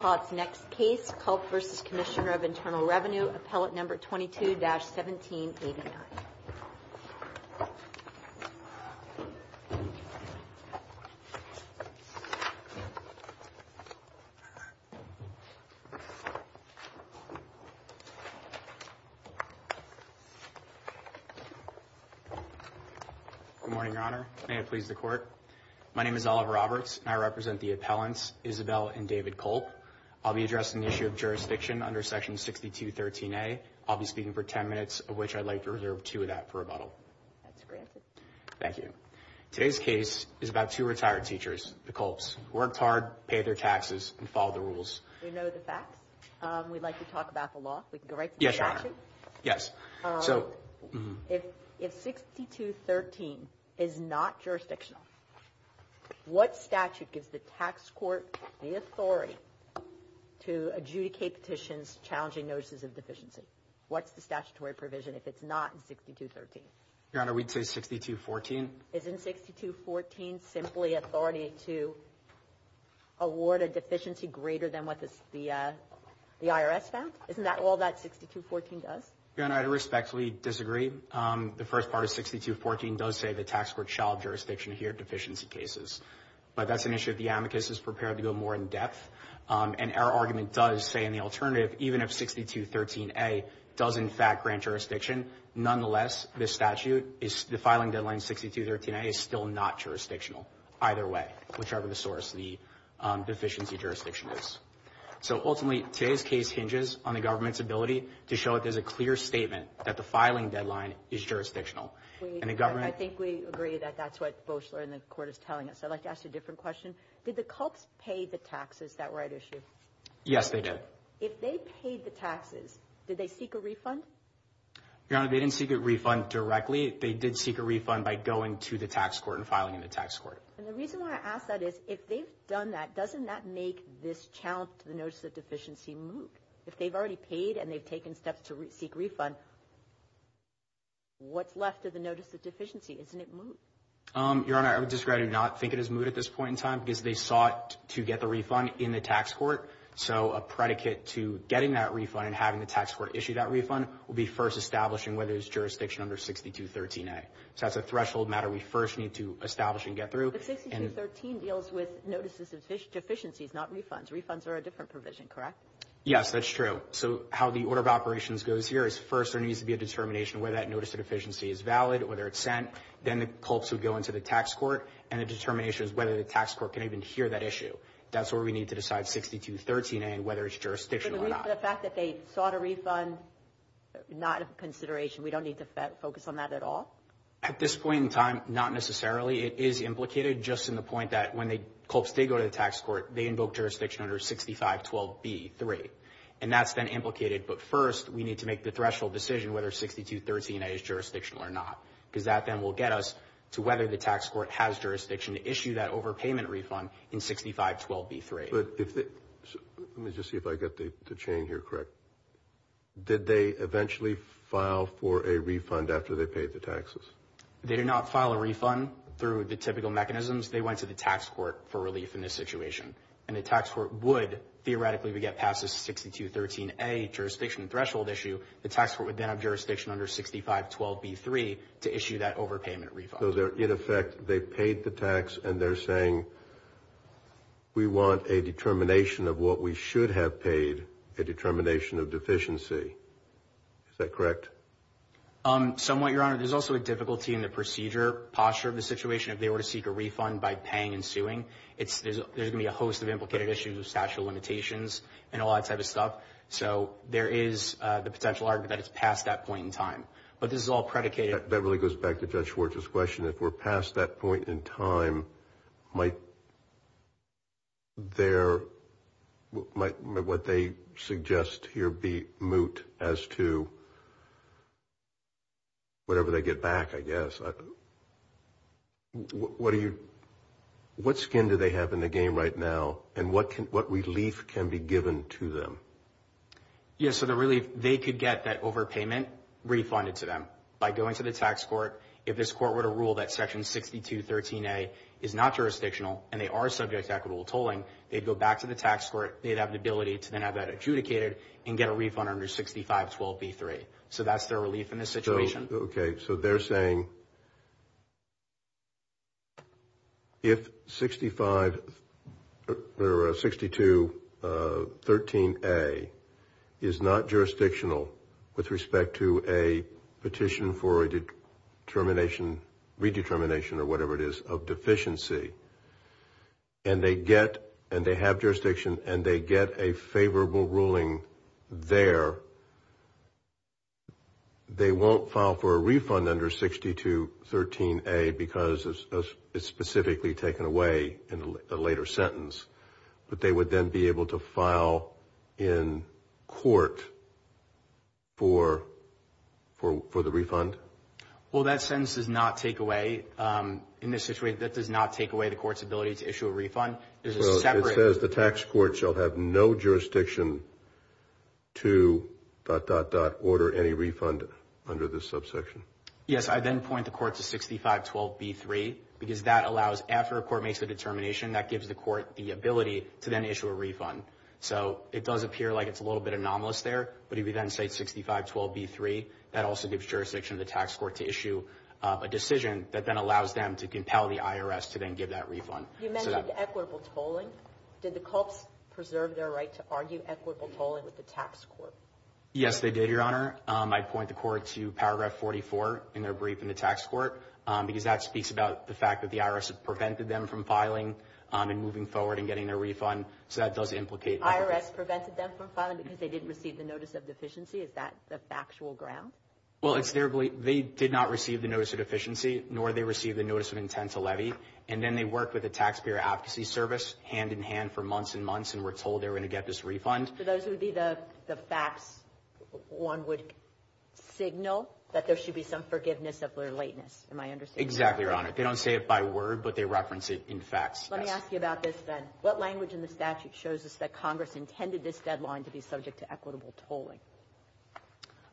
Culp v. Commissioner of Internal Revenue, Appellate No. 22-1789. Good morning, Your Honor. May it please the Court. My name is Oliver Roberts, and I represent the appellants, Isobel and David Culp. I'll be addressing the issue of jurisdiction under Section 6213A. I'll be speaking for 10 minutes, of which I'd like to reserve two of that for rebuttal. That's granted. Thank you. Today's case is about two retired teachers, the Culps, who worked hard, paid their taxes, and followed the rules. We know the facts. We'd like to talk about the law. If we could go right to the statute. Yes, Your Honor. Yes. If 6213 is not jurisdictional, what statute gives the tax court the authority to adjudicate petitions challenging notices of deficiency? What's the statutory provision if it's not in 6213? Your Honor, we'd say 6214. Isn't 6214 simply authority to award a deficiency greater than what the IRS found? Isn't that all that 6214 does? Your Honor, I'd respectfully disagree. The first part of 6214 does say the tax court shall have jurisdiction here in deficiency cases. But that's an issue that the amicus is prepared to go more in depth. And our argument does say in the alternative, even if 6213A does in fact grant jurisdiction, nonetheless, the filing deadline 6213A is still not jurisdictional either way, whichever the source of the deficiency jurisdiction is. So ultimately, today's case hinges on the government's ability to show that there's a clear statement that the filing deadline is jurisdictional. I think we agree that that's what Boesler and the court is telling us. I'd like to ask you a different question. Did the CULPS pay the taxes that were at issue? Yes, they did. If they paid the taxes, did they seek a refund? Your Honor, they didn't seek a refund directly. They did seek a refund by going to the tax court and filing in the tax court. And the reason why I ask that is, if they've done that, doesn't that make this challenge to the notice of deficiency moot? If they've already paid and they've taken steps to seek refund, what's left of the notice of deficiency? Isn't it moot? Your Honor, I would disagree. I do not think it is moot at this point in time, because they sought to get the refund in the tax court. So a predicate to getting that refund and having the tax court issue that refund will be first establishing whether it's jurisdiction under 6213A. So that's a threshold matter we first need to establish and get through. But 6213 deals with notices of deficiencies, not refunds. Refunds are a different provision, correct? Yes, that's true. So how the order of operations goes here is, first, there needs to be a determination whether that notice of deficiency is valid, whether it's sent. Then the CULPS would go into the tax court, and the determination is whether the tax court can even hear that issue. That's where we need to decide 6213A and whether it's jurisdiction or not. But the fact that they sought a refund, not a consideration, we don't need to focus on that at all? At this point in time, not necessarily. It is implicated, just in the point that when the CULPS did go to the tax court, they invoked jurisdiction under 6512B3. And that's been implicated. But first, we need to make the threshold decision whether 6213A is jurisdictional or not. Because that then will get us to whether the tax court has jurisdiction to issue that overpayment refund in 6512B3. Let me just see if I get the chain here correct. Did they eventually file for a refund after they paid the taxes? They did not file a refund through the typical mechanisms. They went to the tax court for relief in this situation. And the tax court would, theoretically, we get past this 6213A jurisdiction threshold issue. The tax court would then have jurisdiction under 6512B3 to issue that overpayment refund. So they're, in effect, they paid the tax and they're saying, we want a determination of what we should have paid, a determination of deficiency. Is that correct? Somewhat, Your Honor. There's also a difficulty in the procedure, posture of the situation if they were to seek a refund by paying and suing. There's going to be a host of implicated issues, statute of limitations, and all that type of stuff. So there is the potential argument that it's past that point in time. But this is all predicated. That really goes back to Judge Schwartz's question. If we're past that point in time, might what they suggest here be moot as to whatever they get back, I guess. What do you, what skin do they have in the game right now and what relief can be given to them? Yeah, so the relief, they could get that overpayment refunded to them by going to the tax court. If this court were to rule that section 6213A is not jurisdictional and they are subject to equitable tolling, they'd go back to the tax court. They'd have the ability to then have that adjudicated and get a refund under 6512B3. So that's their relief in this situation. Okay, so they're saying if 6213A is not jurisdictional with respect to a petition for a determination, redetermination or whatever it is, of deficiency, and they get, and they have jurisdiction, and they get a favorable ruling there, they won't file for a refund under 6213A because it's specifically taken away in a later sentence, but they would then be able to file in court for the refund? Well, that sentence does not take away, in this situation, that does not take away the court's ability to issue a refund. There's a separate... So it says the tax court shall have no jurisdiction to...order any refund under this subsection? Yes, I then point the court to 6512B3 because that allows, after a court makes a determination, that gives the court the ability to then issue a refund. So it does appear like it's a little bit anomalous there, but if you then say 6512B3, that also gives jurisdiction to the tax court to issue a decision that then allows them to compel the IRS to then give that refund. You mentioned equitable tolling. Did the CULPS preserve their right to argue equitable tolling with the tax court? Yes, they did, Your Honor. I point the court to paragraph 44 in their brief in the tax court because that speaks about the fact that the IRS prevented them from filing and moving forward and getting their refund, so that does implicate... The IRS prevented them from filing because they didn't receive the notice of deficiency? Is that the factual ground? Well, it's their belief, they did not receive the notice of deficiency, nor did they receive the notice of intent to levy, and then they worked with the Taxpayer Advocacy Service hand-in-hand for months and months and were told they were going to get this refund. So those would be the facts one would signal that there should be some forgiveness of their lateness. Am I understanding? Exactly, Your Honor. They don't say it by word, but they reference it in facts. Let me ask you about this then. What language in the statute shows us that Congress intended this deadline to be subject to equitable tolling?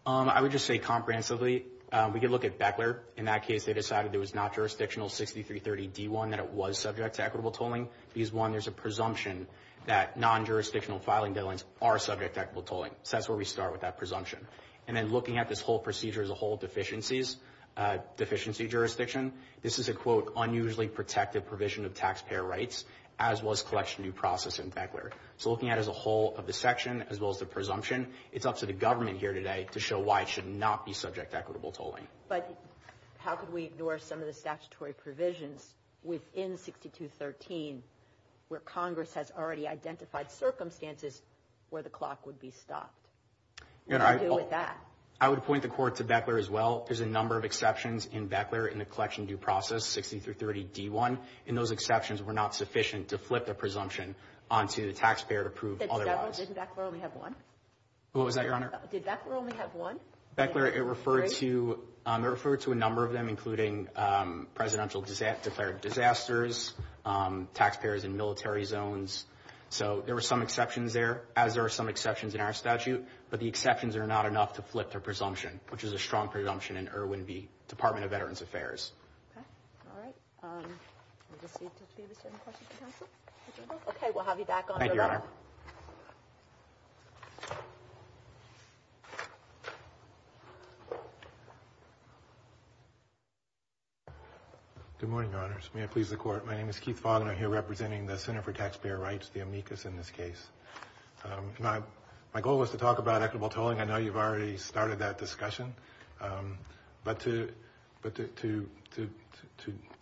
I would just say comprehensively. We could look at Beckler. In that case, they decided it was not jurisdictional, 6330 D1, that it was subject to equitable tolling. D1, there's a presumption that non-jurisdictional filing deadlines are subject to equitable tolling. So that's where we start with that presumption. And then looking at this whole procedure as a whole, deficiencies, deficiency jurisdiction, this is a, quote, unusually protective provision of taxpayer rights, as was collection due process in Beckler. So looking at it as a whole of the section, as well as the presumption, it's up to the But how could we ignore some of the statutory provisions within 6213 where Congress has already identified circumstances where the clock would be stopped? What do you do with that? I would point the court to Beckler as well. There's a number of exceptions in Beckler in the collection due process, 6330 D1, and those exceptions were not sufficient to flip the presumption onto the taxpayer to prove otherwise. Did Beckler only have one? What was that, Your Honor? Did Beckler only have one? Beckler, it referred to a number of them, including presidential declared disasters, taxpayers in military zones. So there were some exceptions there, as there are some exceptions in our statute, but the exceptions are not enough to flip the presumption, which is a strong presumption in Irwin v. Department of Veterans Affairs. Okay. All right. Let me just see if there's any questions for counsel. Okay. We'll have you back on the line. Thank you, Your Honor. Good morning, Your Honors, may it please the court, my name is Keith Fogg and I'm here representing the Center for Taxpayer Rights, the amicus in this case. My goal was to talk about equitable tolling, I know you've already started that discussion, but to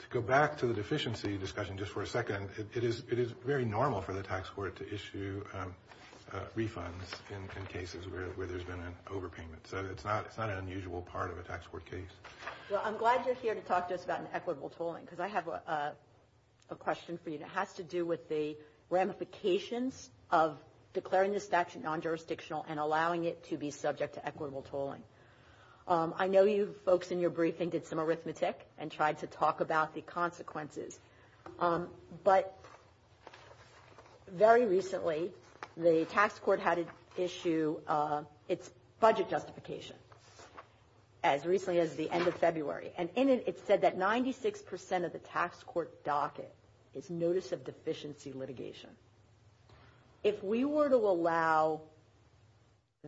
go back to the deficiency discussion just for a second, it is very normal for the state to do refunds in cases where there's been an overpayment, so it's not an unusual part of a tax court case. Well, I'm glad you're here to talk to us about an equitable tolling, because I have a question for you that has to do with the ramifications of declaring the statute non-jurisdictional and allowing it to be subject to equitable tolling. I know you folks in your briefing did some arithmetic and tried to talk about the consequences, but very recently, the tax court had to issue its budget justification, as recently as the end of February, and in it, it said that 96 percent of the tax court docket is notice of deficiency litigation. If we were to allow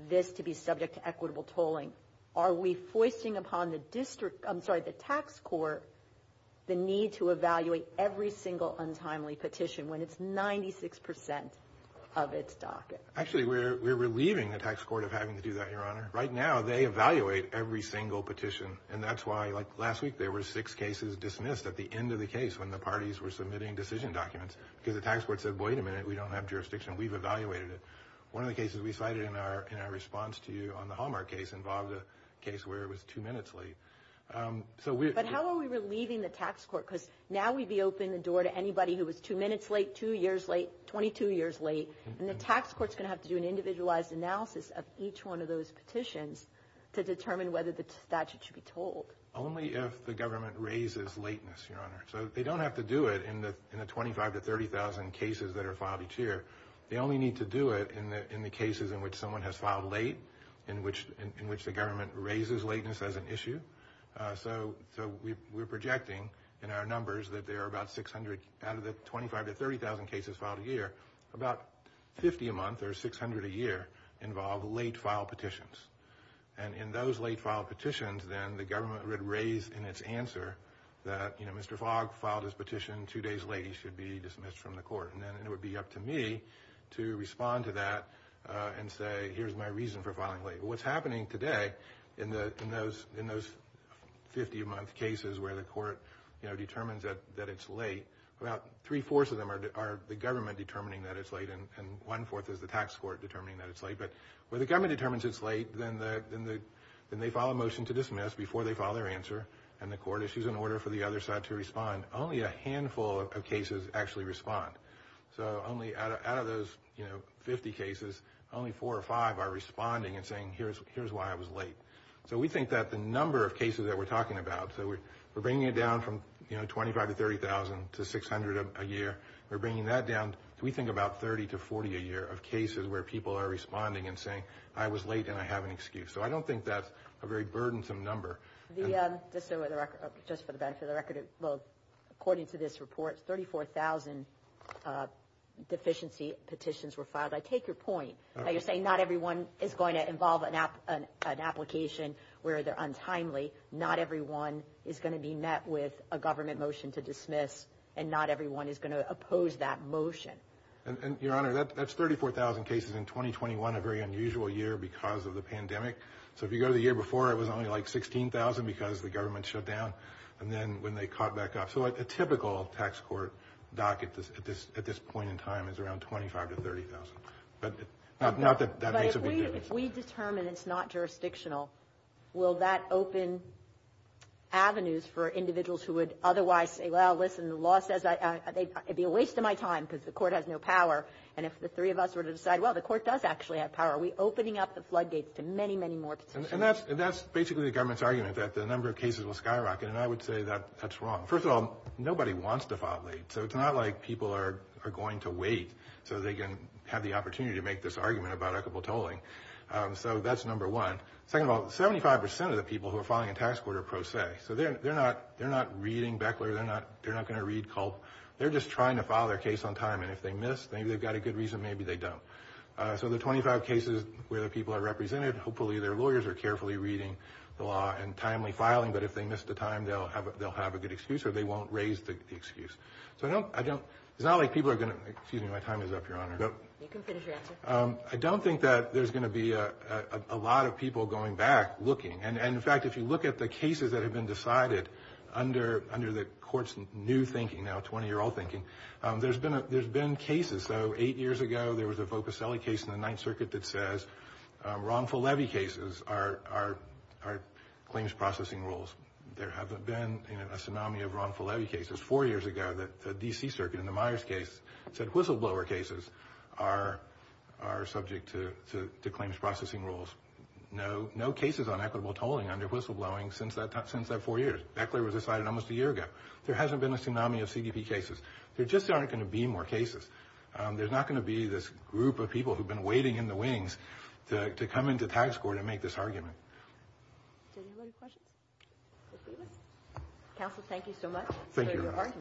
this to be subject to equitable tolling, are we foisting upon the tax court the need to evaluate every single untimely petition when it's 96 percent of its docket? Actually, we're relieving the tax court of having to do that, Your Honor. Right now, they evaluate every single petition, and that's why, like last week, there were six cases dismissed at the end of the case when the parties were submitting decision documents, because the tax court said, wait a minute, we don't have jurisdiction, we've evaluated it. One of the cases we cited in our response to you on the Hallmark case involved a case where it was two minutes late. But how are we relieving the tax court, because now we'd be opening the door to anybody who was two minutes late, two years late, 22 years late, and the tax court's going to have to do an individualized analysis of each one of those petitions to determine whether the statute should be tolled. Only if the government raises lateness, Your Honor. So they don't have to do it in the 25,000 to 30,000 cases that are filed each year. They only need to do it in the cases in which someone has filed late, in which the government raises lateness as an issue. So we're projecting in our numbers that there are about 600 out of the 25,000 to 30,000 cases filed a year, about 50 a month or 600 a year involve late filed petitions. And in those late filed petitions, then the government would raise in its answer that, you know, Mr. Fogg filed his petition two days late, he should be dismissed from the court. And then it would be up to me to respond to that and say, here's my reason for filing late. What's happening today in those 50 a month cases where the court, you know, determines that it's late, about three-fourths of them are the government determining that it's late and one-fourth is the tax court determining that it's late. But when the government determines it's late, then they file a motion to dismiss before they file their answer and the court issues an order for the other side to respond. Only a handful of cases actually respond. So only out of those, you know, 50 cases, only four or five are responding and saying, here's why I was late. So we think that the number of cases that we're talking about, so we're bringing it down from, you know, 25 to 30,000 to 600 a year, we're bringing that down, we think about 30 to 40 a year of cases where people are responding and saying, I was late and I have an excuse. So I don't think that's a very burdensome number. Just for the benefit of the record, according to this report, 34,000 deficiency petitions were filed. I take your point. You're saying not everyone is going to involve an application where they're untimely. Not everyone is going to be met with a government motion to dismiss and not everyone is going to oppose that motion. And Your Honor, that's 34,000 cases in 2021, a very unusual year because of the pandemic. So if you go to the year before, it was only like 16,000 because the government shut down. And then when they caught back up, so a typical tax court docket at this point in time is around 25 to 30,000, but not that that makes a big difference. If we determine it's not jurisdictional, will that open avenues for individuals who would otherwise say, well, listen, the law says it'd be a waste of my time because the court has no power. And if the three of us were to decide, well, the court does actually have power, are we And that's, that's basically the government's argument that the number of cases will skyrocket. And I would say that that's wrong. First of all, nobody wants to file late. So it's not like people are going to wait so they can have the opportunity to make this argument about equitable tolling. So that's number one. Second of all, 75% of the people who are filing a tax court are pro se. So they're not, they're not reading Beckler. They're not, they're not going to read Culp. They're just trying to file their case on time. And if they miss, maybe they've got a good reason. Maybe they don't. So the 25 cases where the people are represented. Hopefully their lawyers are carefully reading the law and timely filing. But if they missed the time, they'll have, they'll have a good excuse or they won't raise the excuse. So I don't, I don't, it's not like people are going to, excuse me, my time is up, Your Honor. You can finish your answer. I don't think that there's going to be a lot of people going back looking. And in fact, if you look at the cases that have been decided under, under the court's new thinking, now 20 year old thinking, there's been, there's been cases. So eight years ago, there was a Voposelli case in the Ninth Circuit that says wrongful levy cases are, are, are claims processing rules. There hasn't been a tsunami of wrongful levy cases. Four years ago, the D.C. Circuit in the Myers case said whistleblower cases are, are subject to, to, to claims processing rules. No, no cases on equitable tolling under whistleblowing since that, since that four years. Beckler was decided almost a year ago. There hasn't been a tsunami of CDP cases. There just aren't going to be more cases. There's not going to be this group of people who've been waiting in the wings to, to come into tax court and make this argument. Do you have any questions for Stevens? Counsel, thank you so much for your argument. Thank you, Your Honor.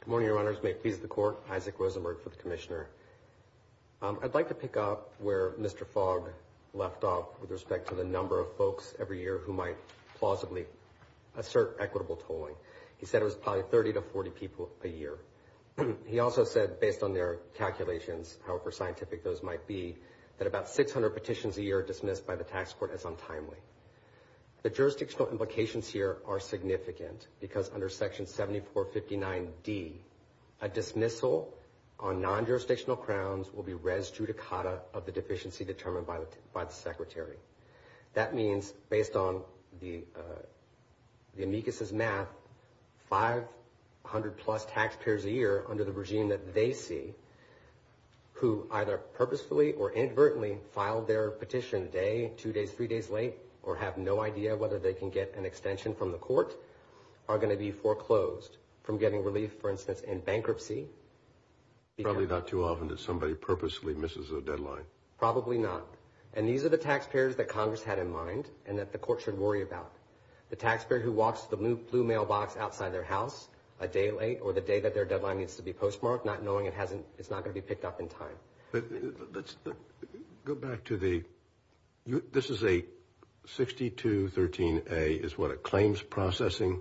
Good morning, Your Honors, may it please the Court, Isaac Rosenberg for the Commissioner. I'd like to pick up where Mr. Fogg left off with respect to the number of folks every year who actually assert equitable tolling. He said it was probably 30 to 40 people a year. He also said, based on their calculations, however scientific those might be, that about 600 petitions a year are dismissed by the tax court as untimely. The jurisdictional implications here are significant because under Section 7459D, a dismissal on non-jurisdictional crowns will be res judicata of the deficiency determined by the, by the Secretary. That means, based on the, the amicus's math, 500 plus taxpayers a year under the regime that they see who either purposefully or inadvertently filed their petition a day, two days, three days late, or have no idea whether they can get an extension from the court are going to be foreclosed from getting relief, for instance, in bankruptcy. Probably not too often that somebody purposely misses a deadline. Probably not. And these are the taxpayers that Congress had in mind and that the court should worry about. The taxpayer who walks to the blue mailbox outside their house a day late or the day that their deadline needs to be postmarked, not knowing it hasn't, it's not going to be picked up in time. But let's go back to the, this is a 6213A is what it claims processing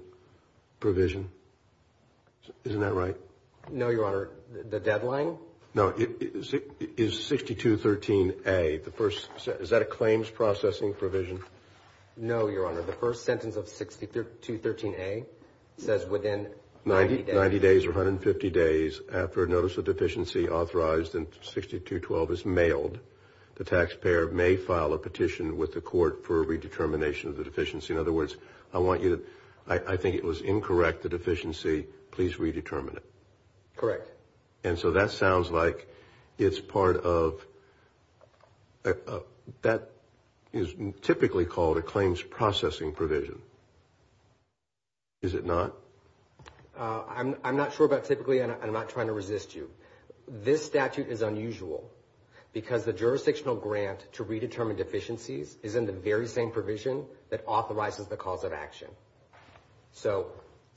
provision, isn't that right? No, Your Honor. The deadline? No. No. Is 6213A, the first, is that a claims processing provision? No, Your Honor. The first sentence of 6213A says within 90 days or 150 days after a notice of deficiency authorized in 6212 is mailed, the taxpayer may file a petition with the court for a redetermination of the deficiency. In other words, I want you to, I think it was incorrect, the deficiency, please redetermine it. Correct. And so that sounds like it's part of, that is typically called a claims processing provision. Is it not? I'm not sure about typically and I'm not trying to resist you. This statute is unusual because the jurisdictional grant to redetermine deficiencies is in the very same provision that authorizes the cause of action. So,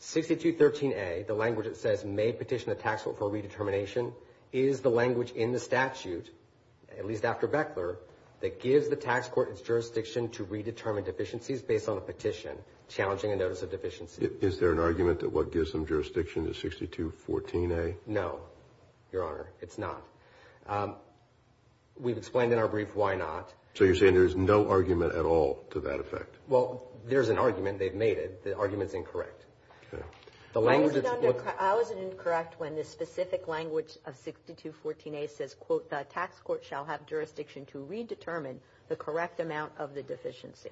6213A, the language that says may petition the tax court for a redetermination, is the language in the statute, at least after Beckler, that gives the tax court its jurisdiction to redetermine deficiencies based on a petition challenging a notice of deficiency. Is there an argument that what gives them jurisdiction is 6214A? No, Your Honor. It's not. We've explained in our brief why not. So you're saying there's no argument at all to that effect? Well, there's an argument. They've made it. The argument's incorrect. I was incorrect when the specific language of 6214A says, quote, the tax court shall have jurisdiction to redetermine the correct amount of the deficiency.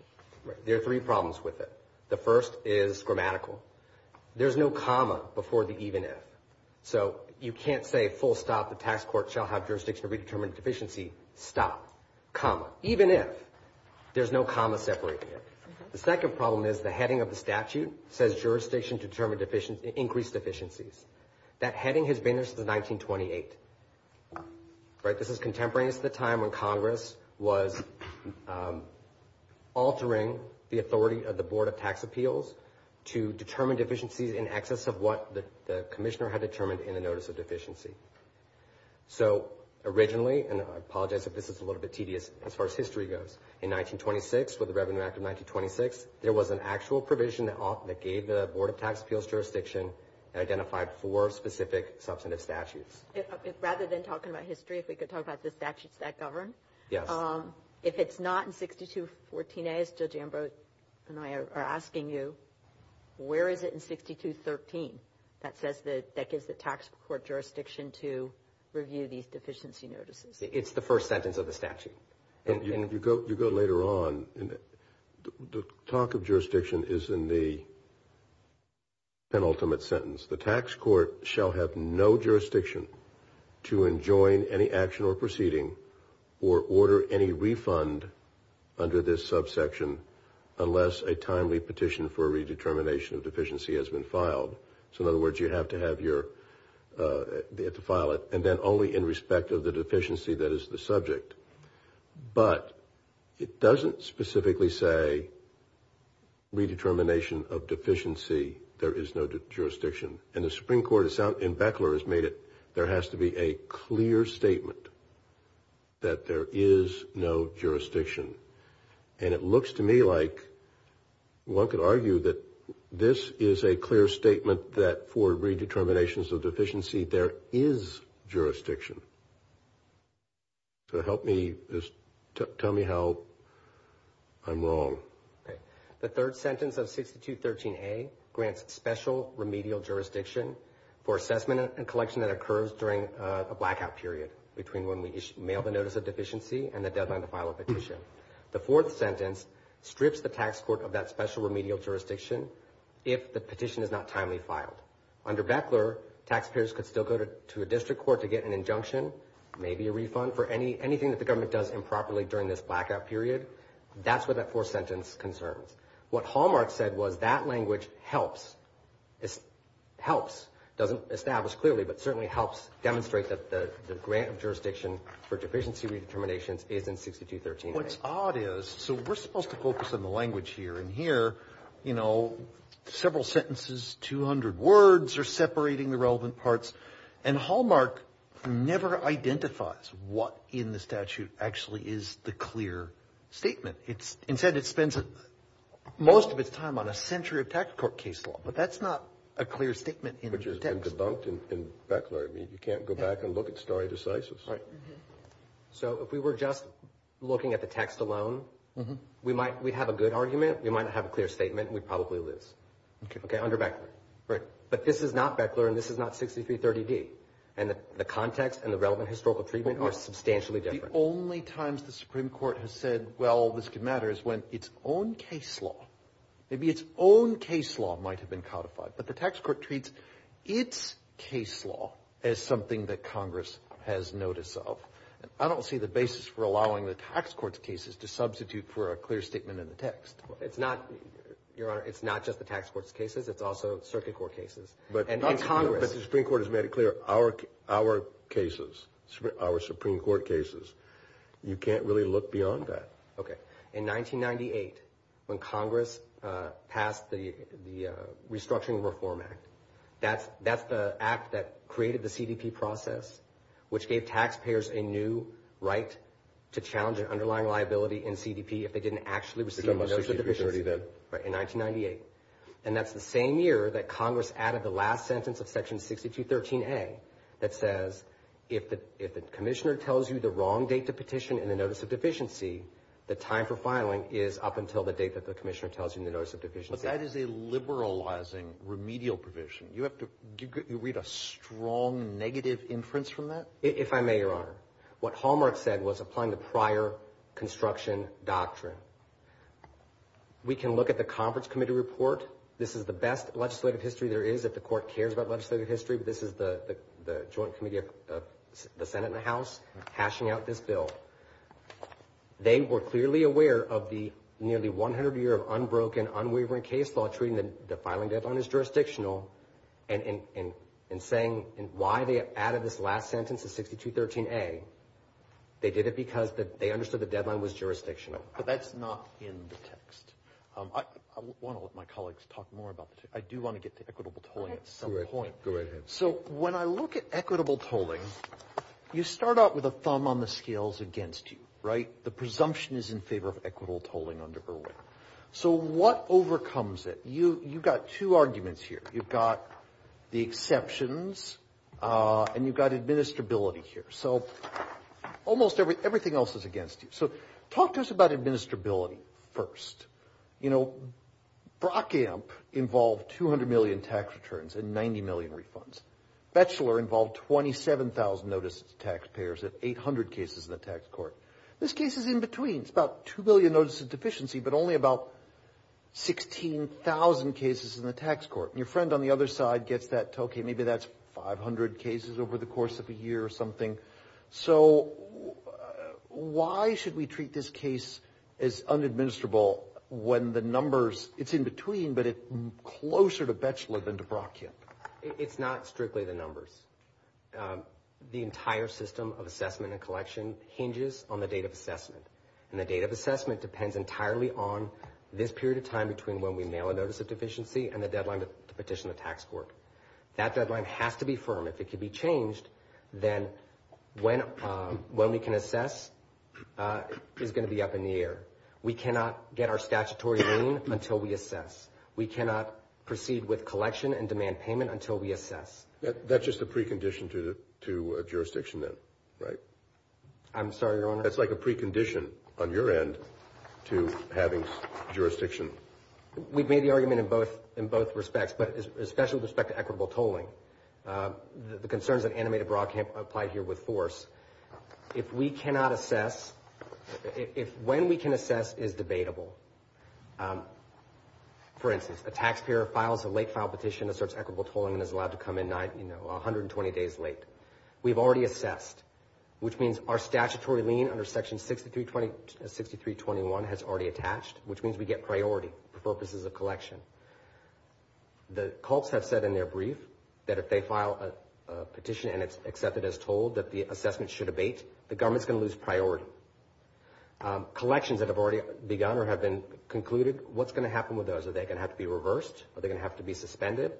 There are three problems with it. The first is grammatical. There's no comma before the even if. So you can't say full stop, the tax court shall have jurisdiction to redetermine deficiency, stop, comma. Even if. There's no comma separating it. The second problem is the heading of the statute says jurisdiction to determine increased deficiencies. That heading has been there since 1928, right? This is contemporary. This is the time when Congress was altering the authority of the Board of Tax Appeals to determine deficiencies in excess of what the commissioner had determined in a notice of deficiency. So, originally, and I apologize if this is a little bit tedious as far as history goes, in 1926, with the Revenue Act of 1926, there was an actual provision that gave the Board of Tax Appeals jurisdiction and identified four specific substantive statutes. If, rather than talking about history, if we could talk about the statutes that govern? Yes. If it's not in 6214A, as Judge Ambrose and I are asking you, where is it in 6213 that says that gives the tax court jurisdiction to review these deficiency notices? It's the first sentence of the statute. You go later on, the talk of jurisdiction is in the penultimate sentence. The tax court shall have no jurisdiction to enjoin any action or proceeding or order any refund under this subsection unless a timely petition for a redetermination of deficiency has been filed. So, in other words, you have to file it and then only in respect of the deficiency that is the subject. But it doesn't specifically say, redetermination of deficiency, there is no jurisdiction. And the Supreme Court in Beckler has made it, there has to be a clear statement that there is no jurisdiction. And it looks to me like one could argue that this is a clear statement that for redeterminations of deficiency, there is jurisdiction. So help me, tell me how I'm wrong. The third sentence of 6213A grants special remedial jurisdiction for assessment and collection that occurs during a blackout period between when we mail the notice of deficiency and the deadline to file a petition. The fourth sentence strips the tax court of that special remedial jurisdiction if the petition is not timely filed. Under Beckler, taxpayers could still go to a district court to get an injunction, maybe a refund for anything that the government does improperly during this blackout period. That's where that fourth sentence concerns. What Hallmark said was that language helps, doesn't establish clearly, but certainly helps demonstrate that the grant of jurisdiction for deficiency redeterminations is in 6213A. What's odd is, so we're supposed to focus on the language here. And here, you know, several sentences, 200 words are separating the relevant parts. And Hallmark never identifies what in the statute actually is the clear statement. Instead, it spends most of its time on a century of tax court case law. But that's not a clear statement in the text. Language has been debunked in Beckler. I mean, you can't go back and look at stare decisis. Right. So if we were just looking at the text alone, we might, we'd have a good argument. We might not have a clear statement. We'd probably lose. Okay. Okay, under Beckler. Right. But this is not Beckler, and this is not 6330D. And the context and the relevant historical treatment are substantially different. The only times the Supreme Court has said, well, this could matter is when its own case law, maybe its own case law might have been codified. But the tax court treats its case law as something that Congress has notice of. I don't see the basis for allowing the tax court's cases to substitute for a clear statement in the text. It's not, Your Honor, it's not just the tax court's cases. It's also circuit court cases. But the Supreme Court has made it clear, our cases, our Supreme Court cases, you can't really look beyond that. Okay. In 1998, when Congress passed the Restructuring Reform Act, that's the act that created the CDP process, which gave taxpayers a new right to challenge an underlying liability in CDP if they didn't actually receive the notice of deficiency. It's on 6330D. Right, in 1998. And that's the same year that Congress added the last sentence of Section 6213A that says, if the commissioner tells you the wrong date to petition in the notice of deficiency, the time for filing is up until the date that the commissioner tells you in the notice of deficiency. But that is a liberalizing remedial provision. You have to read a strong negative inference from that? If I may, Your Honor, what Hallmark said was applying the prior construction doctrine. We can look at the conference committee report. This is the best legislative history there is if the court cares about legislative history. This is the Joint Committee of the Senate and the House hashing out this bill. They were clearly aware of the nearly 100-year of unbroken, unwavering case law treating the filing deadline as jurisdictional. And in saying why they added this last sentence of 6213A, they did it because they understood the deadline was jurisdictional. But that's not in the text. I want to let my colleagues talk more about the text. I do want to get to equitable tolling at some point. Go ahead. So when I look at equitable tolling, you start out with a thumb on the scales against you, right? The presumption is in favor of equitable tolling under Irwin. So what overcomes it? You've got two arguments here. You've got the exceptions and you've got administrability here. So almost everything else is against you. So talk to us about administrability first. You know, Brockamp involved 200 million tax returns and 90 million refunds. Batchelor involved 27,000 notices to taxpayers and 800 cases in the tax court. This case is in between. It's about 2 million notices of deficiency but only about 16,000 cases in the tax court. And your friend on the other side gets that, okay, maybe that's 500 cases over the course of a year or something. So why should we treat this case as unadministrable when the numbers, it's in between but closer to Batchelor than to Brockamp? It's not strictly the numbers. The entire system of assessment and collection hinges on the date of assessment. And the date of assessment depends entirely on this period of time between when we mail a notice of deficiency and the deadline to petition the tax court. That deadline has to be firm. If it can be changed, then when we can assess is going to be up in the air. We cannot get our statutory lien until we assess. We cannot proceed with collection and demand payment until we assess. That's just a precondition to jurisdiction then, right? I'm sorry, Your Honor. That's like a precondition on your end to having jurisdiction. We've made the argument in both respects, but especially with respect to equitable tolling. The concerns that animated Brockamp applied here with force. If we cannot assess, if when we can assess is debatable. For instance, a taxpayer files a late file petition that asserts equitable tolling and is allowed to come in 120 days late. We've already assessed, which means our statutory lien under Section 6321 has already attached, which means we get priority for purposes of collection. The CULTS have said in their brief that if they file a petition and it's accepted as told that the assessment should abate, the government is going to lose priority. Collections that have already begun or have been concluded, what's going to happen with those? Are they going to have to be reversed? Are they going to have to be suspended?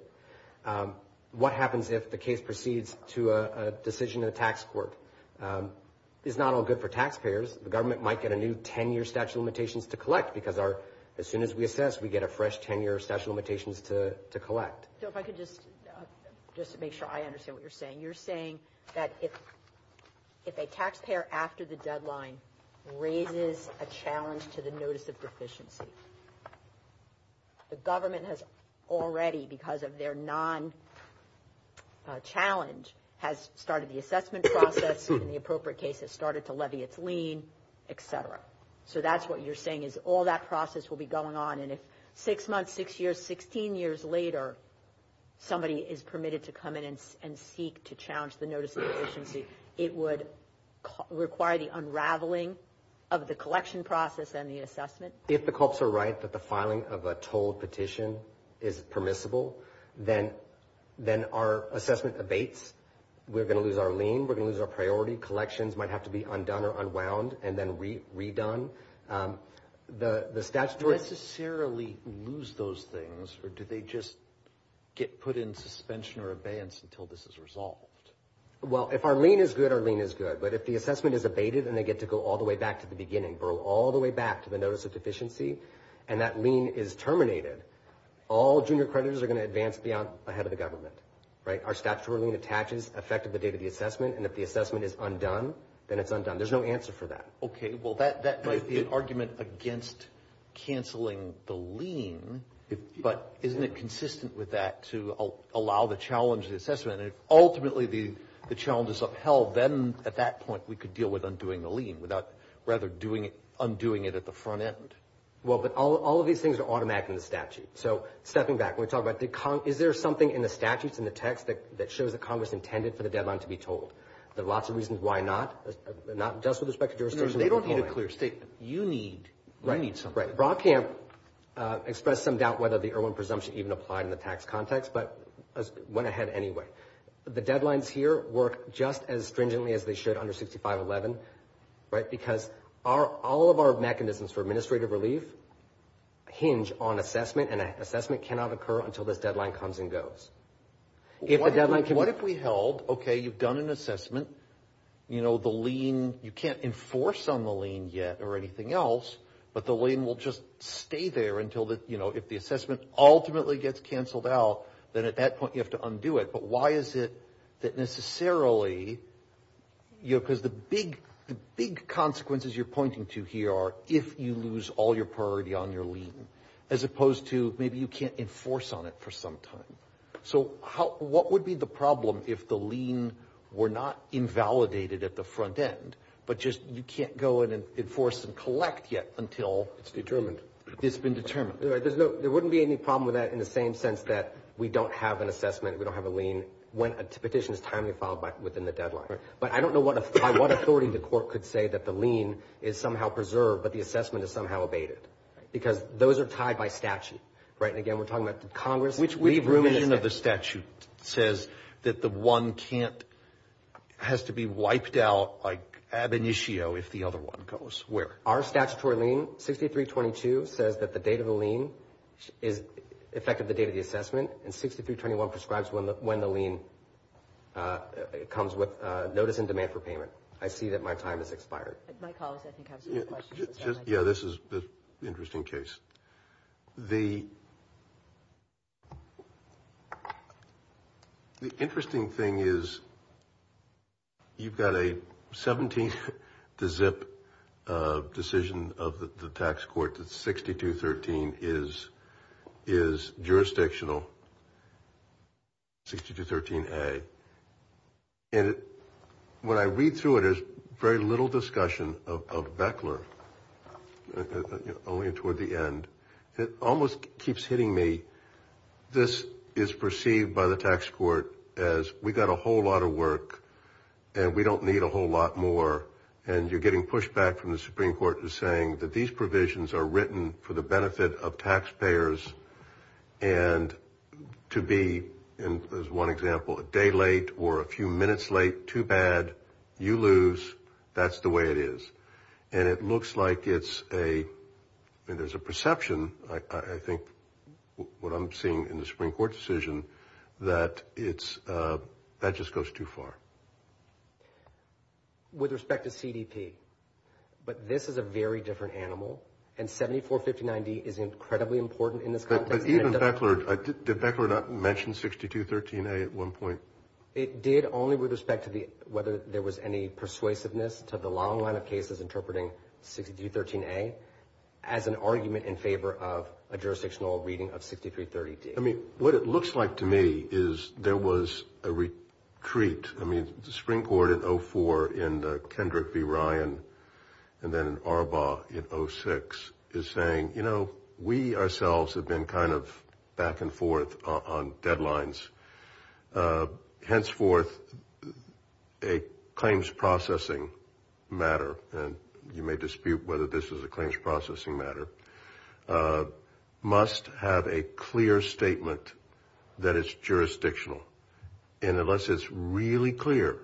What happens if the case proceeds to a decision in a tax court? It's not all good for taxpayers. The government might get a new 10-year statute of limitations to collect because as soon as we assess, we get a fresh 10-year statute of limitations to collect. So if I could just make sure I understand what you're saying. You're saying that if a taxpayer after the deadline raises a challenge to the notice of deficiency, the government has already, because of their non-challenge, has started the assessment process. In the appropriate case, it started to levy its lien, et cetera. So that's what you're saying is all that process will be going on. And if six months, six years, 16 years later, somebody is permitted to come in and seek to challenge the notice of deficiency, it would require the unraveling of the collection process and the assessment. If the cops are right that the filing of a told petition is permissible, then our assessment abates. We're going to lose our lien. We're going to lose our priority. Collections might have to be undone or unwound and then redone. Do they necessarily lose those things, or do they just get put in suspension or abeyance until this is resolved? Well, if our lien is good, our lien is good. But if the assessment is abated and they get to go all the way back to the beginning, go all the way back to the notice of deficiency, and that lien is terminated, all junior creditors are going to advance ahead of the government. Our statutory lien attaches effective the date of the assessment, and if the assessment is undone, then it's undone. There's no answer for that. Okay. Well, that might be an argument against canceling the lien, but isn't it consistent with that to allow the challenge of the assessment? And if ultimately the challenge is upheld, then at that point we could deal with undoing the lien without rather undoing it at the front end. Well, but all of these things are automatic in the statute. So stepping back, when we talk about is there something in the statutes, in the text, that shows that Congress intended for the deadline to be told? There are lots of reasons why not, not just with respect to jurisdiction. No, they don't need a clear statement. You need something. Right. Brock can't express some doubt whether the Erwin presumption even applied in the tax context, but went ahead anyway. The deadlines here work just as stringently as they should under 6511, right, because all of our mechanisms for administrative relief hinge on assessment, and an assessment cannot occur until this deadline comes and goes. What if we held, okay, you've done an assessment, you know, the lien, you can't enforce on the lien yet or anything else, but the lien will just stay there until the, you know, if the assessment ultimately gets canceled out, then at that point you have to undo it. But why is it that necessarily, you know, because the big consequences you're pointing to here are if you lose all your priority on your lien, as opposed to maybe you can't enforce on it for some time. So what would be the problem if the lien were not invalidated at the front end, but just you can't go in and enforce and collect yet until it's been determined? There wouldn't be any problem with that in the same sense that we don't have an assessment, we don't have a lien when a petition is timely filed within the deadline. But I don't know by what authority the court could say that the lien is somehow preserved, but the assessment is somehow abated, because those are tied by statute, right? And again, we're talking about Congress. Which revision of the statute says that the one can't, has to be wiped out like ab initio if the other one goes where? Our statutory lien, 6322, says that the date of the lien is effective the date of the assessment, and 6321 prescribes when the lien comes with notice in demand for payment. I see that my time has expired. My colleagues, I think, have some questions. Yeah, this is an interesting case. The interesting thing is you've got a 17-zip decision of the tax court that 6213 is jurisdictional, 6213A. And when I read through it, there's very little discussion of Beckler, only toward the end. It almost keeps hitting me this is perceived by the tax court as we've got a whole lot of work, and we don't need a whole lot more, and you're getting pushback from the Supreme Court who's saying that these provisions are written for the benefit of taxpayers and to be, as one example, a day late or a few minutes late, too bad, you lose, that's the way it is. And it looks like it's a, there's a perception, I think, what I'm seeing in the Supreme Court decision, that it's, that just goes too far. With respect to CDP, but this is a very different animal, and 7459D is incredibly important in this context. But even Beckler, did Beckler not mention 6213A at one point? It did only with respect to whether there was any persuasiveness to the long line of cases interpreting 6213A as an argument in favor of a jurisdictional reading of 6330D. I mean, what it looks like to me is there was a retreat. I mean, the Supreme Court in 04 in Kendrick v. Ryan and then in Arbaugh in 06 is saying, you know, we ourselves have been kind of back and forth on deadlines. Henceforth, a claims processing matter, and you may dispute whether this is a claims processing matter, must have a clear statement that it's jurisdictional. And unless it's really clear,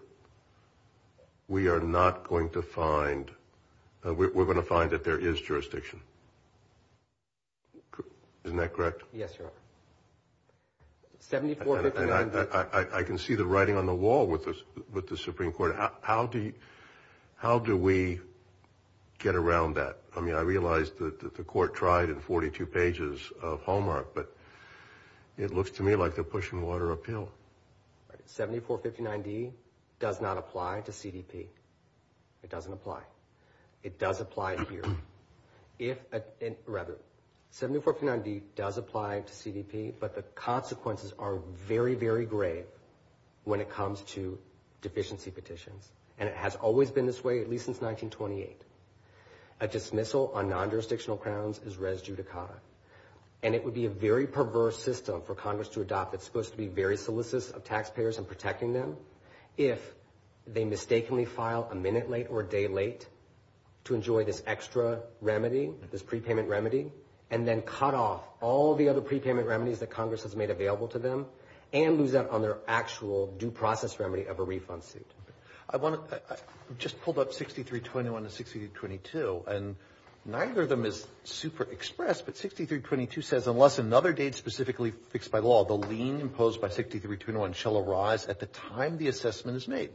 we are not going to find, we're going to find that there is jurisdiction. Isn't that correct? Yes, Your Honor. And I can see the writing on the wall with the Supreme Court. How do we get around that? I mean, I realize that the Court tried in 42 pages of Hallmark, but it looks to me like they're pushing water uphill. 7459D does not apply to CDP. It doesn't apply. It does apply here. If, rather, 7459D does apply to CDP, but the consequences are very, very grave when it comes to deficiency petitions, and it has always been this way, at least since 1928. A dismissal on non-jurisdictional crowns is res judicata. And it would be a very perverse system for Congress to adopt. It's supposed to be very solicitous of taxpayers in protecting them if they mistakenly file a minute late or a day late to enjoy this extra remedy, this prepayment remedy, and then cut off all the other prepayment remedies that Congress has made available to them and lose out on their actual due process remedy of a refund suit. I just pulled up 6321 and 6322, and neither of them is super expressed, but 6322 says, unless another date specifically fixed by law, the lien imposed by 6321 shall arise at the time the assessment is made.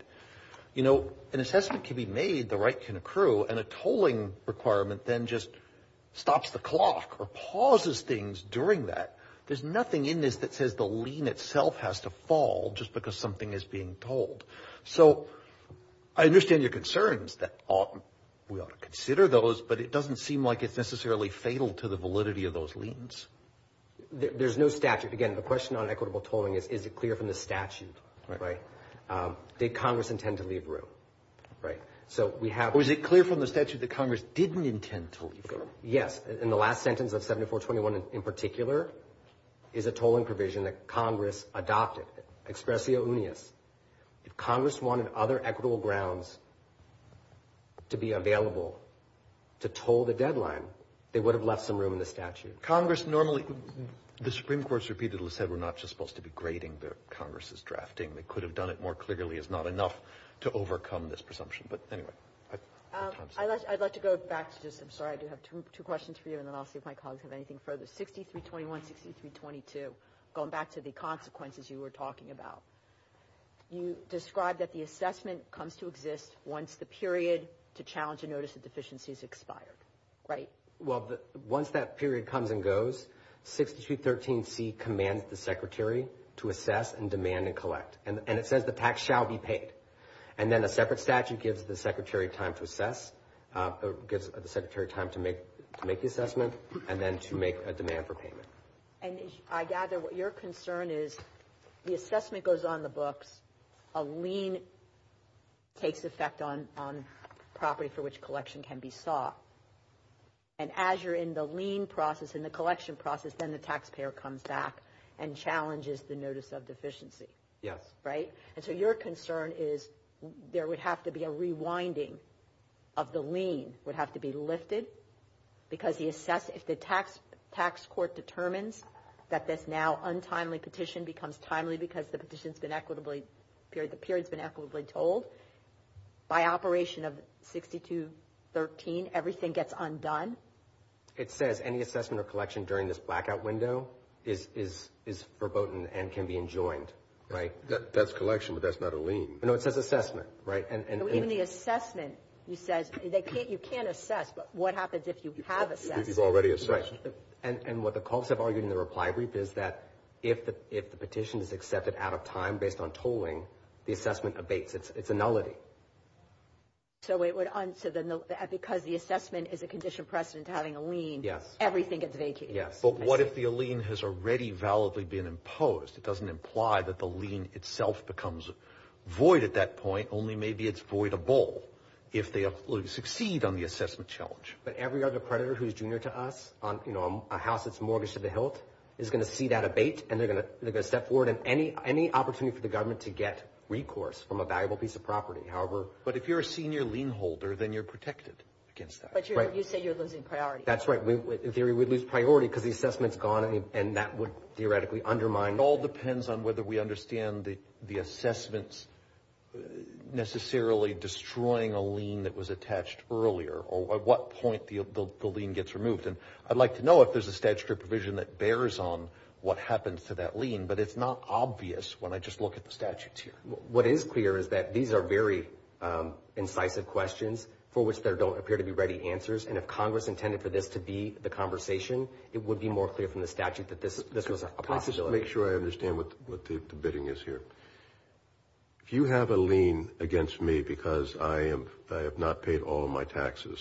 You know, an assessment can be made, the right can accrue, and a tolling requirement then just stops the clock or pauses things during that. There's nothing in this that says the lien itself has to fall just because something is being told. So I understand your concerns that we ought to consider those, but it doesn't seem like it's necessarily fatal to the validity of those liens. There's no statute. Again, the question on equitable tolling is, is it clear from the statute, right? Did Congress intend to leave room, right? Or is it clear from the statute that Congress didn't intend to leave room? Yes. In the last sentence of 6421 in particular is a tolling provision that Congress adopted, expressio unius. If Congress wanted other equitable grounds to be available to toll the deadline, they would have left some room in the statute. Congress normally, the Supreme Court has repeatedly said we're not just supposed to be grading the Congress's drafting. They could have done it more clearly. It's not enough to overcome this presumption. But anyway. I'd like to go back to just, I'm sorry, I do have two questions for you, and then I'll see if my colleagues have anything further. So 6321, 6322, going back to the consequences you were talking about, you described that the assessment comes to exist once the period to challenge a notice of deficiency is expired, right? Well, once that period comes and goes, 6213C commands the Secretary to assess and demand and collect. And it says the tax shall be paid. And then a separate statute gives the Secretary time to assess, gives the Secretary time to make the assessment, and then to make a demand for payment. And I gather your concern is the assessment goes on the books, a lien takes effect on property for which collection can be sought. And as you're in the lien process, in the collection process, then the taxpayer comes back and challenges the notice of deficiency. Yes. Right? And so your concern is there would have to be a rewinding of the lien, would have to be lifted, because if the tax court determines that this now untimely petition becomes timely because the period's been equitably told, by operation of 6213 everything gets undone? It says any assessment or collection during this blackout window is verboten and can be enjoined, right? That's collection, but that's not a lien. No, it says assessment, right? Even the assessment, you can't assess, but what happens if you have assessed? If you've already assessed. Right. And what the colleagues have argued in the reply brief is that if the petition is accepted out of time based on tolling, the assessment abates. It's a nullity. So because the assessment is a conditioned precedent to having a lien, everything gets vacated? Yes. But what if the lien has already validly been imposed? It doesn't imply that the lien itself becomes void at that point, only maybe it's voidable if they succeed on the assessment challenge. But every other creditor who's junior to us, a house that's mortgaged to the hilt, is going to see that abate and they're going to step forward, and any opportunity for the government to get recourse from a valuable piece of property, however. But if you're a senior lien holder, then you're protected against that. But you say you're losing priority. That's right. In theory we'd lose priority because the assessment's gone and that would theoretically undermine. It all depends on whether we understand the assessment's necessarily destroying a lien that was attached earlier or at what point the lien gets removed. I'd like to know if there's a statutory provision that bears on what happens to that lien, but it's not obvious when I just look at the statutes here. What is clear is that these are very incisive questions for which there don't appear to be ready answers, and if Congress intended for this to be the conversation, it would be more clear from the statute that this was a possibility. Let me just make sure I understand what the bidding is here. If you have a lien against me because I have not paid all of my taxes,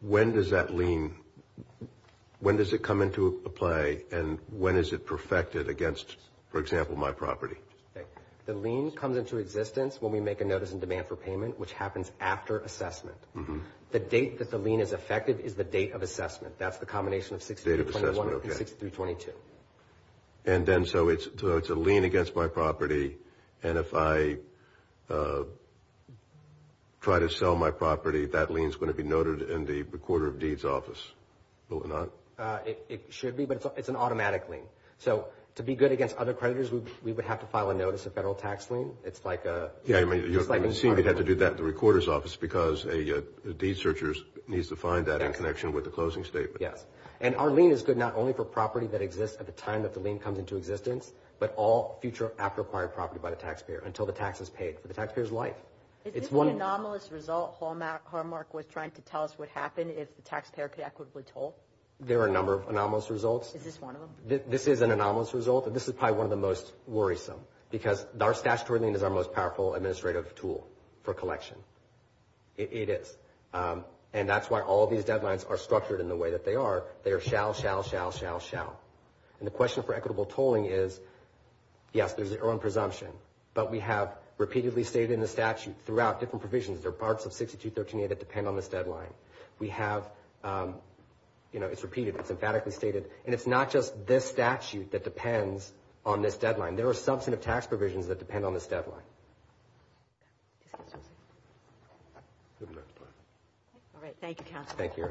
when does that lien come into play and when is it perfected against, for example, my property? The lien comes into existence when we make a notice in demand for payment, which happens after assessment. The date that the lien is effective is the date of assessment. That's the combination of 6321 and 6322. And then so it's a lien against my property, and if I try to sell my property, that lien's going to be noted in the recorder of deeds office, will it not? It should be, but it's an automatic lien. So to be good against other creditors, we would have to file a notice, a federal tax lien. You seem to have to do that at the recorder's office because a deed searcher needs to find that in connection with the closing statement. Yes, and our lien is good not only for property that exists at the time that the lien comes into existence, but all future after-acquired property by the taxpayer until the tax is paid for the taxpayer's life. Is this the anomalous result Hallmark was trying to tell us would happen if the taxpayer could equitably toll? There are a number of anomalous results. Is this one of them? This is an anomalous result, and this is probably one of the most worrisome because our statutory lien is our most powerful administrative tool for collection. It is. And that's why all these deadlines are structured in the way that they are. They are shall, shall, shall, shall, shall. And the question for equitable tolling is, yes, there's an earned presumption, but we have repeatedly stated in the statute throughout different provisions, there are parts of 6213a that depend on this deadline. We have, you know, it's repeated, it's emphatically stated, and it's not just this statute that depends on this deadline. There are substantive tax provisions that depend on this deadline. All right. Thank you, counsel. Thank you.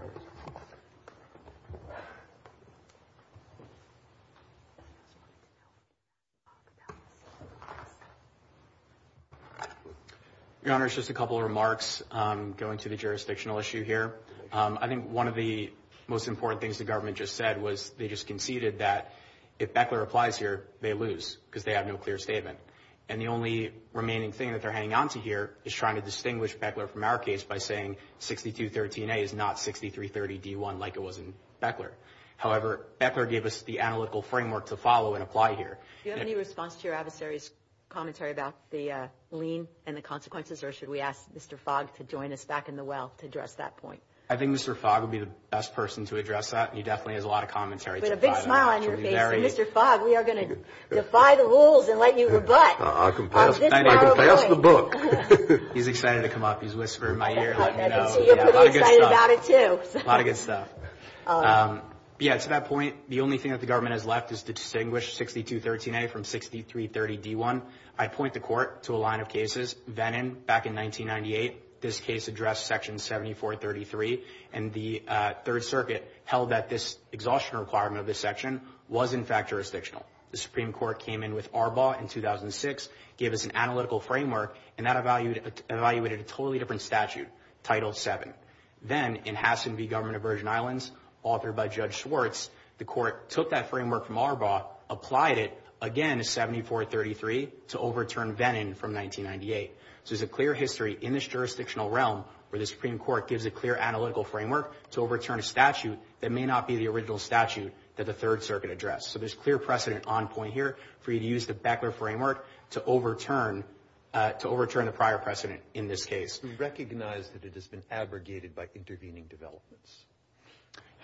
Your Honor, just a couple of remarks going to the jurisdictional issue here. I think one of the most important things the government just said was they just conceded that if Bechler applies here, they lose because they have no clear statement. And the only remaining thing that they're hanging onto here is trying to distinguish Bechler from our case by saying 6213a is not 6330d1 like it was in Bechler. However, Bechler gave us the analytical framework to follow and apply here. Do you have any response to your adversary's commentary about the lien and the consequences, or should we ask Mr. Fogg to join us back in the well to address that point? I think Mr. Fogg would be the best person to address that. He definitely has a lot of commentary. With a big smile on your face. Mr. Fogg, we are going to defy the rules and let you rebut. I can pass the book. He's excited to come up. He's whispering in my ear and letting me know. He's excited about it too. A lot of good stuff. Yeah, to that point, the only thing that the government has left is to distinguish 6213a from 6330d1. I point the court to a line of cases. Vennon, back in 1998, this case addressed Section 7433, and the Third Circuit held that this exhaustion requirement of this section was, in fact, jurisdictional. The Supreme Court came in with Arbaugh in 2006, gave us an analytical framework, and that evaluated a totally different statute, Title VII. Then, in Hassen v. Government of Virgin Islands, authored by Judge Schwartz, the court took that framework from Arbaugh, applied it, again, to 7433 to overturn Vennon from 1998. So there's a clear history in this jurisdictional realm where the Supreme Court gives a clear analytical framework to overturn a statute that may not be the original statute that the Third Circuit addressed. So there's clear precedent on point here for you to use the Beckler framework to overturn the prior precedent in this case. We recognize that it has been abrogated by intervening developments.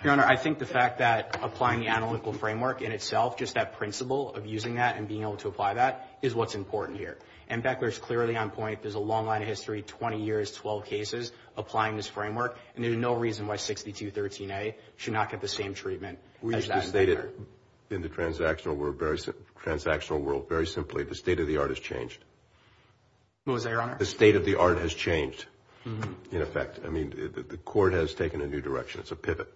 Your Honor, I think the fact that applying the analytical framework in itself, just that principle of using that and being able to apply that, is what's important here. And Beckler is clearly on point. There's a long line of history, 20 years, 12 cases, applying this framework. And there's no reason why 6213A should not get the same treatment as that standard. We just stated in the transactional world, very simply, the state of the art has changed. What was that, Your Honor? The state of the art has changed, in effect. I mean, the court has taken a new direction. It's a pivot.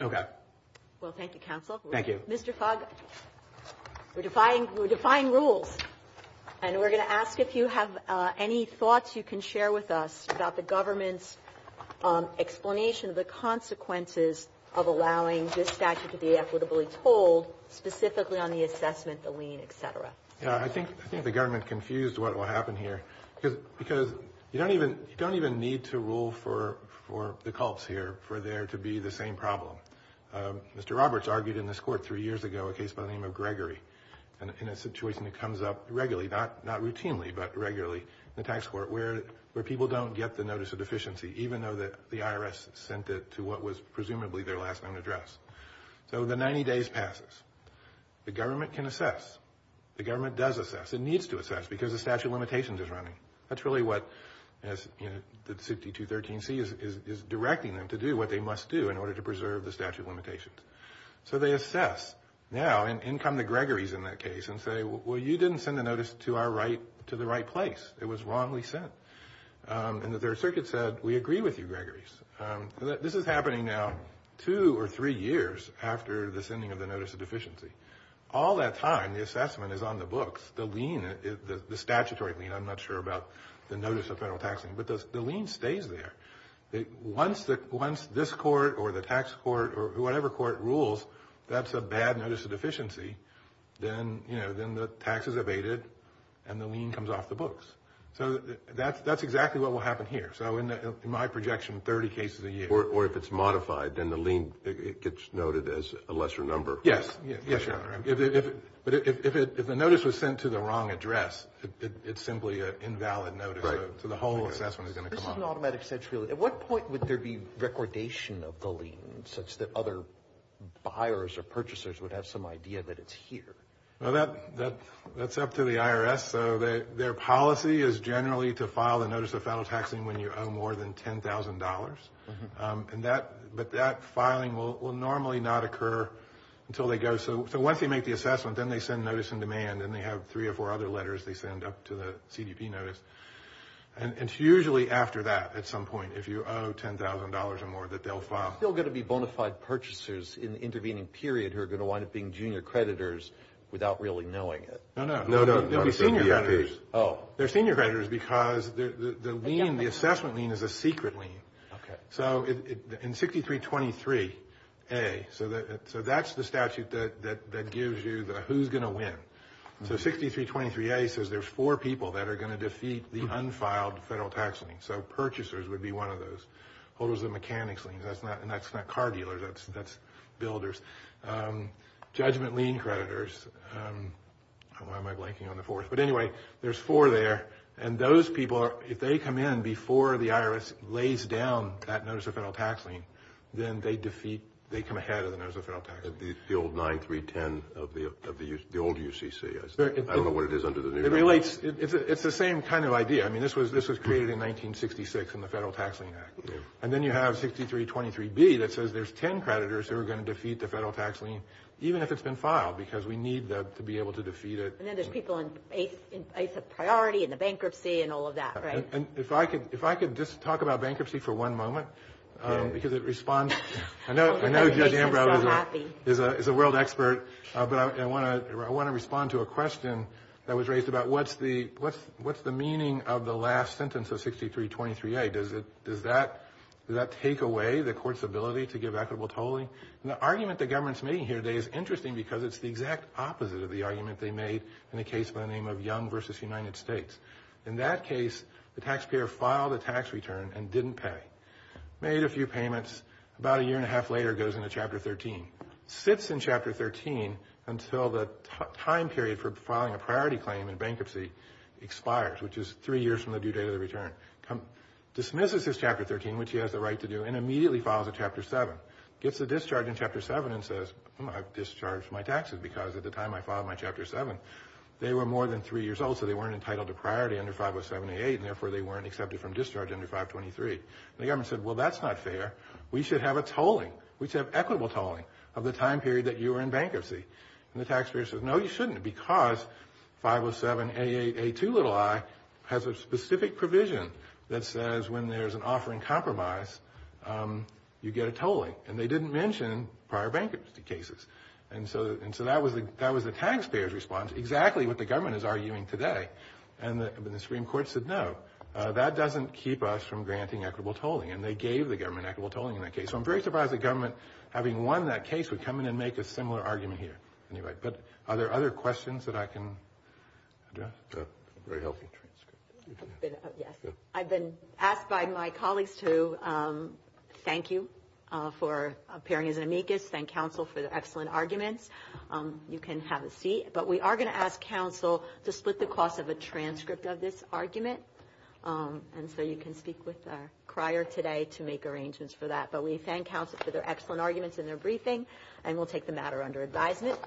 Okay. Well, thank you, counsel. Thank you. Mr. Fogg, we're defying rules, and we're going to ask if you have any thoughts you can share with us about the government's explanation of the consequences of allowing this statute to be equitably told, specifically on the assessment, the lien, et cetera. Yeah, I think the government confused what will happen here, because you don't even need to rule for the cults here for there to be the same problem. Mr. Roberts argued in this court three years ago, a case by the name of Gregory, in a situation that comes up regularly, not routinely, but regularly in the tax court, where people don't get the notice of deficiency, even though the IRS sent it to what was presumably their last known address. So the 90 days passes. The government can assess. The government does assess. It needs to assess, because the statute of limitations is running. That's really what the 6213C is directing them to do, what they must do, in order to preserve the statute of limitations. So they assess. Now, in come the Gregory's in that case, and say, well, you didn't send the notice to the right place. It was wrongly sent. And the Third Circuit said, we agree with you, Gregory's. This is happening now two or three years after the sending of the notice of deficiency. All that time, the assessment is on the books. The statutory lien, I'm not sure about the notice of federal tax lien, but the lien stays there. Once this court or the tax court or whatever court rules that's a bad notice of deficiency, then the tax is abated and the lien comes off the books. So that's exactly what will happen here. So in my projection, 30 cases a year. Or if it's modified, then the lien gets noted as a lesser number. Yes, Your Honor. But if the notice was sent to the wrong address, it's simply an invalid notice. So the whole assessment is going to come off. At what point would there be recordation of the lien, such that other buyers or purchasers would have some idea that it's here? Well, that's up to the IRS. So their policy is generally to file the notice of federal tax lien when you owe more than $10,000. But that filing will normally not occur until they go. So once they make the assessment, then they send notice in demand, and they have three or four other letters they send up to the CDP notice. And it's usually after that at some point, if you owe $10,000 or more, that they'll file. There's still going to be bona fide purchasers in the intervening period who are going to wind up being junior creditors without really knowing it. No, no. They'll be senior creditors. Oh. They're senior creditors because the lien, the assessment lien, is a secret lien. Okay. So in 6323A, so that's the statute that gives you the who's going to win. So 6323A says there's four people that are going to defeat the unfiled federal tax lien. So purchasers would be one of those. Holders of mechanics liens, and that's not car dealers. That's builders. Judgment lien creditors. Why am I blanking on the fourth? But anyway, there's four there. And those people, if they come in before the IRS lays down that notice of federal tax lien, then they defeat, they come ahead of the notice of federal tax lien. The old 9310 of the old UCC. I don't know what it is under the new. It relates. It's the same kind of idea. I mean, this was created in 1966 in the Federal Tax Lien Act. And then you have 6323B that says there's ten creditors who are going to defeat the federal tax lien, even if it's been filed, because we need that to be able to defeat it. And then there's people in ACE of priority and the bankruptcy and all of that, right? And if I could just talk about bankruptcy for one moment, because it responds. I know Judge Ambrose is a world expert, but I want to respond to a question that was raised about what's the meaning of the last sentence of 6323A? Does that take away the court's ability to give equitable tolling? And the argument the government's making here today is interesting because it's the exact opposite of the argument they made in the case by the name of Young v. United States. In that case, the taxpayer filed a tax return and didn't pay. Made a few payments. About a year and a half later, goes into Chapter 13. Sits in Chapter 13 until the time period for filing a priority claim in bankruptcy expires, which is three years from the due date of the return. Dismisses his Chapter 13, which he has the right to do, and immediately files a Chapter 7. Gets a discharge in Chapter 7 and says, I've discharged my taxes because at the time I filed my Chapter 7, they were more than three years old, so they weren't entitled to priority under 507A8, and therefore they weren't accepted from discharge under 523. The government said, well, that's not fair. We should have a tolling. We should have equitable tolling of the time period that you were in bankruptcy. And the taxpayer says, no, you shouldn't, because 507A8A2i has a specific provision that says when there's an offering compromise, you get a tolling. And they didn't mention prior bankruptcy cases. And so that was the taxpayer's response, exactly what the government is arguing today. And the Supreme Court said, no, that doesn't keep us from granting equitable tolling. And they gave the government equitable tolling in that case. So I'm very surprised the government, having won that case, would come in and make a similar argument here. But are there other questions that I can address? Very helpful. I've been asked by my colleagues to thank you for appearing as an amicus, thank counsel for their excellent arguments. You can have a seat. But we are going to ask counsel to split the cost of a transcript of this argument. And so you can speak with our crier today to make arrangements for that. But we thank counsel for their excellent arguments in their briefing, and we'll take the matter under advisement.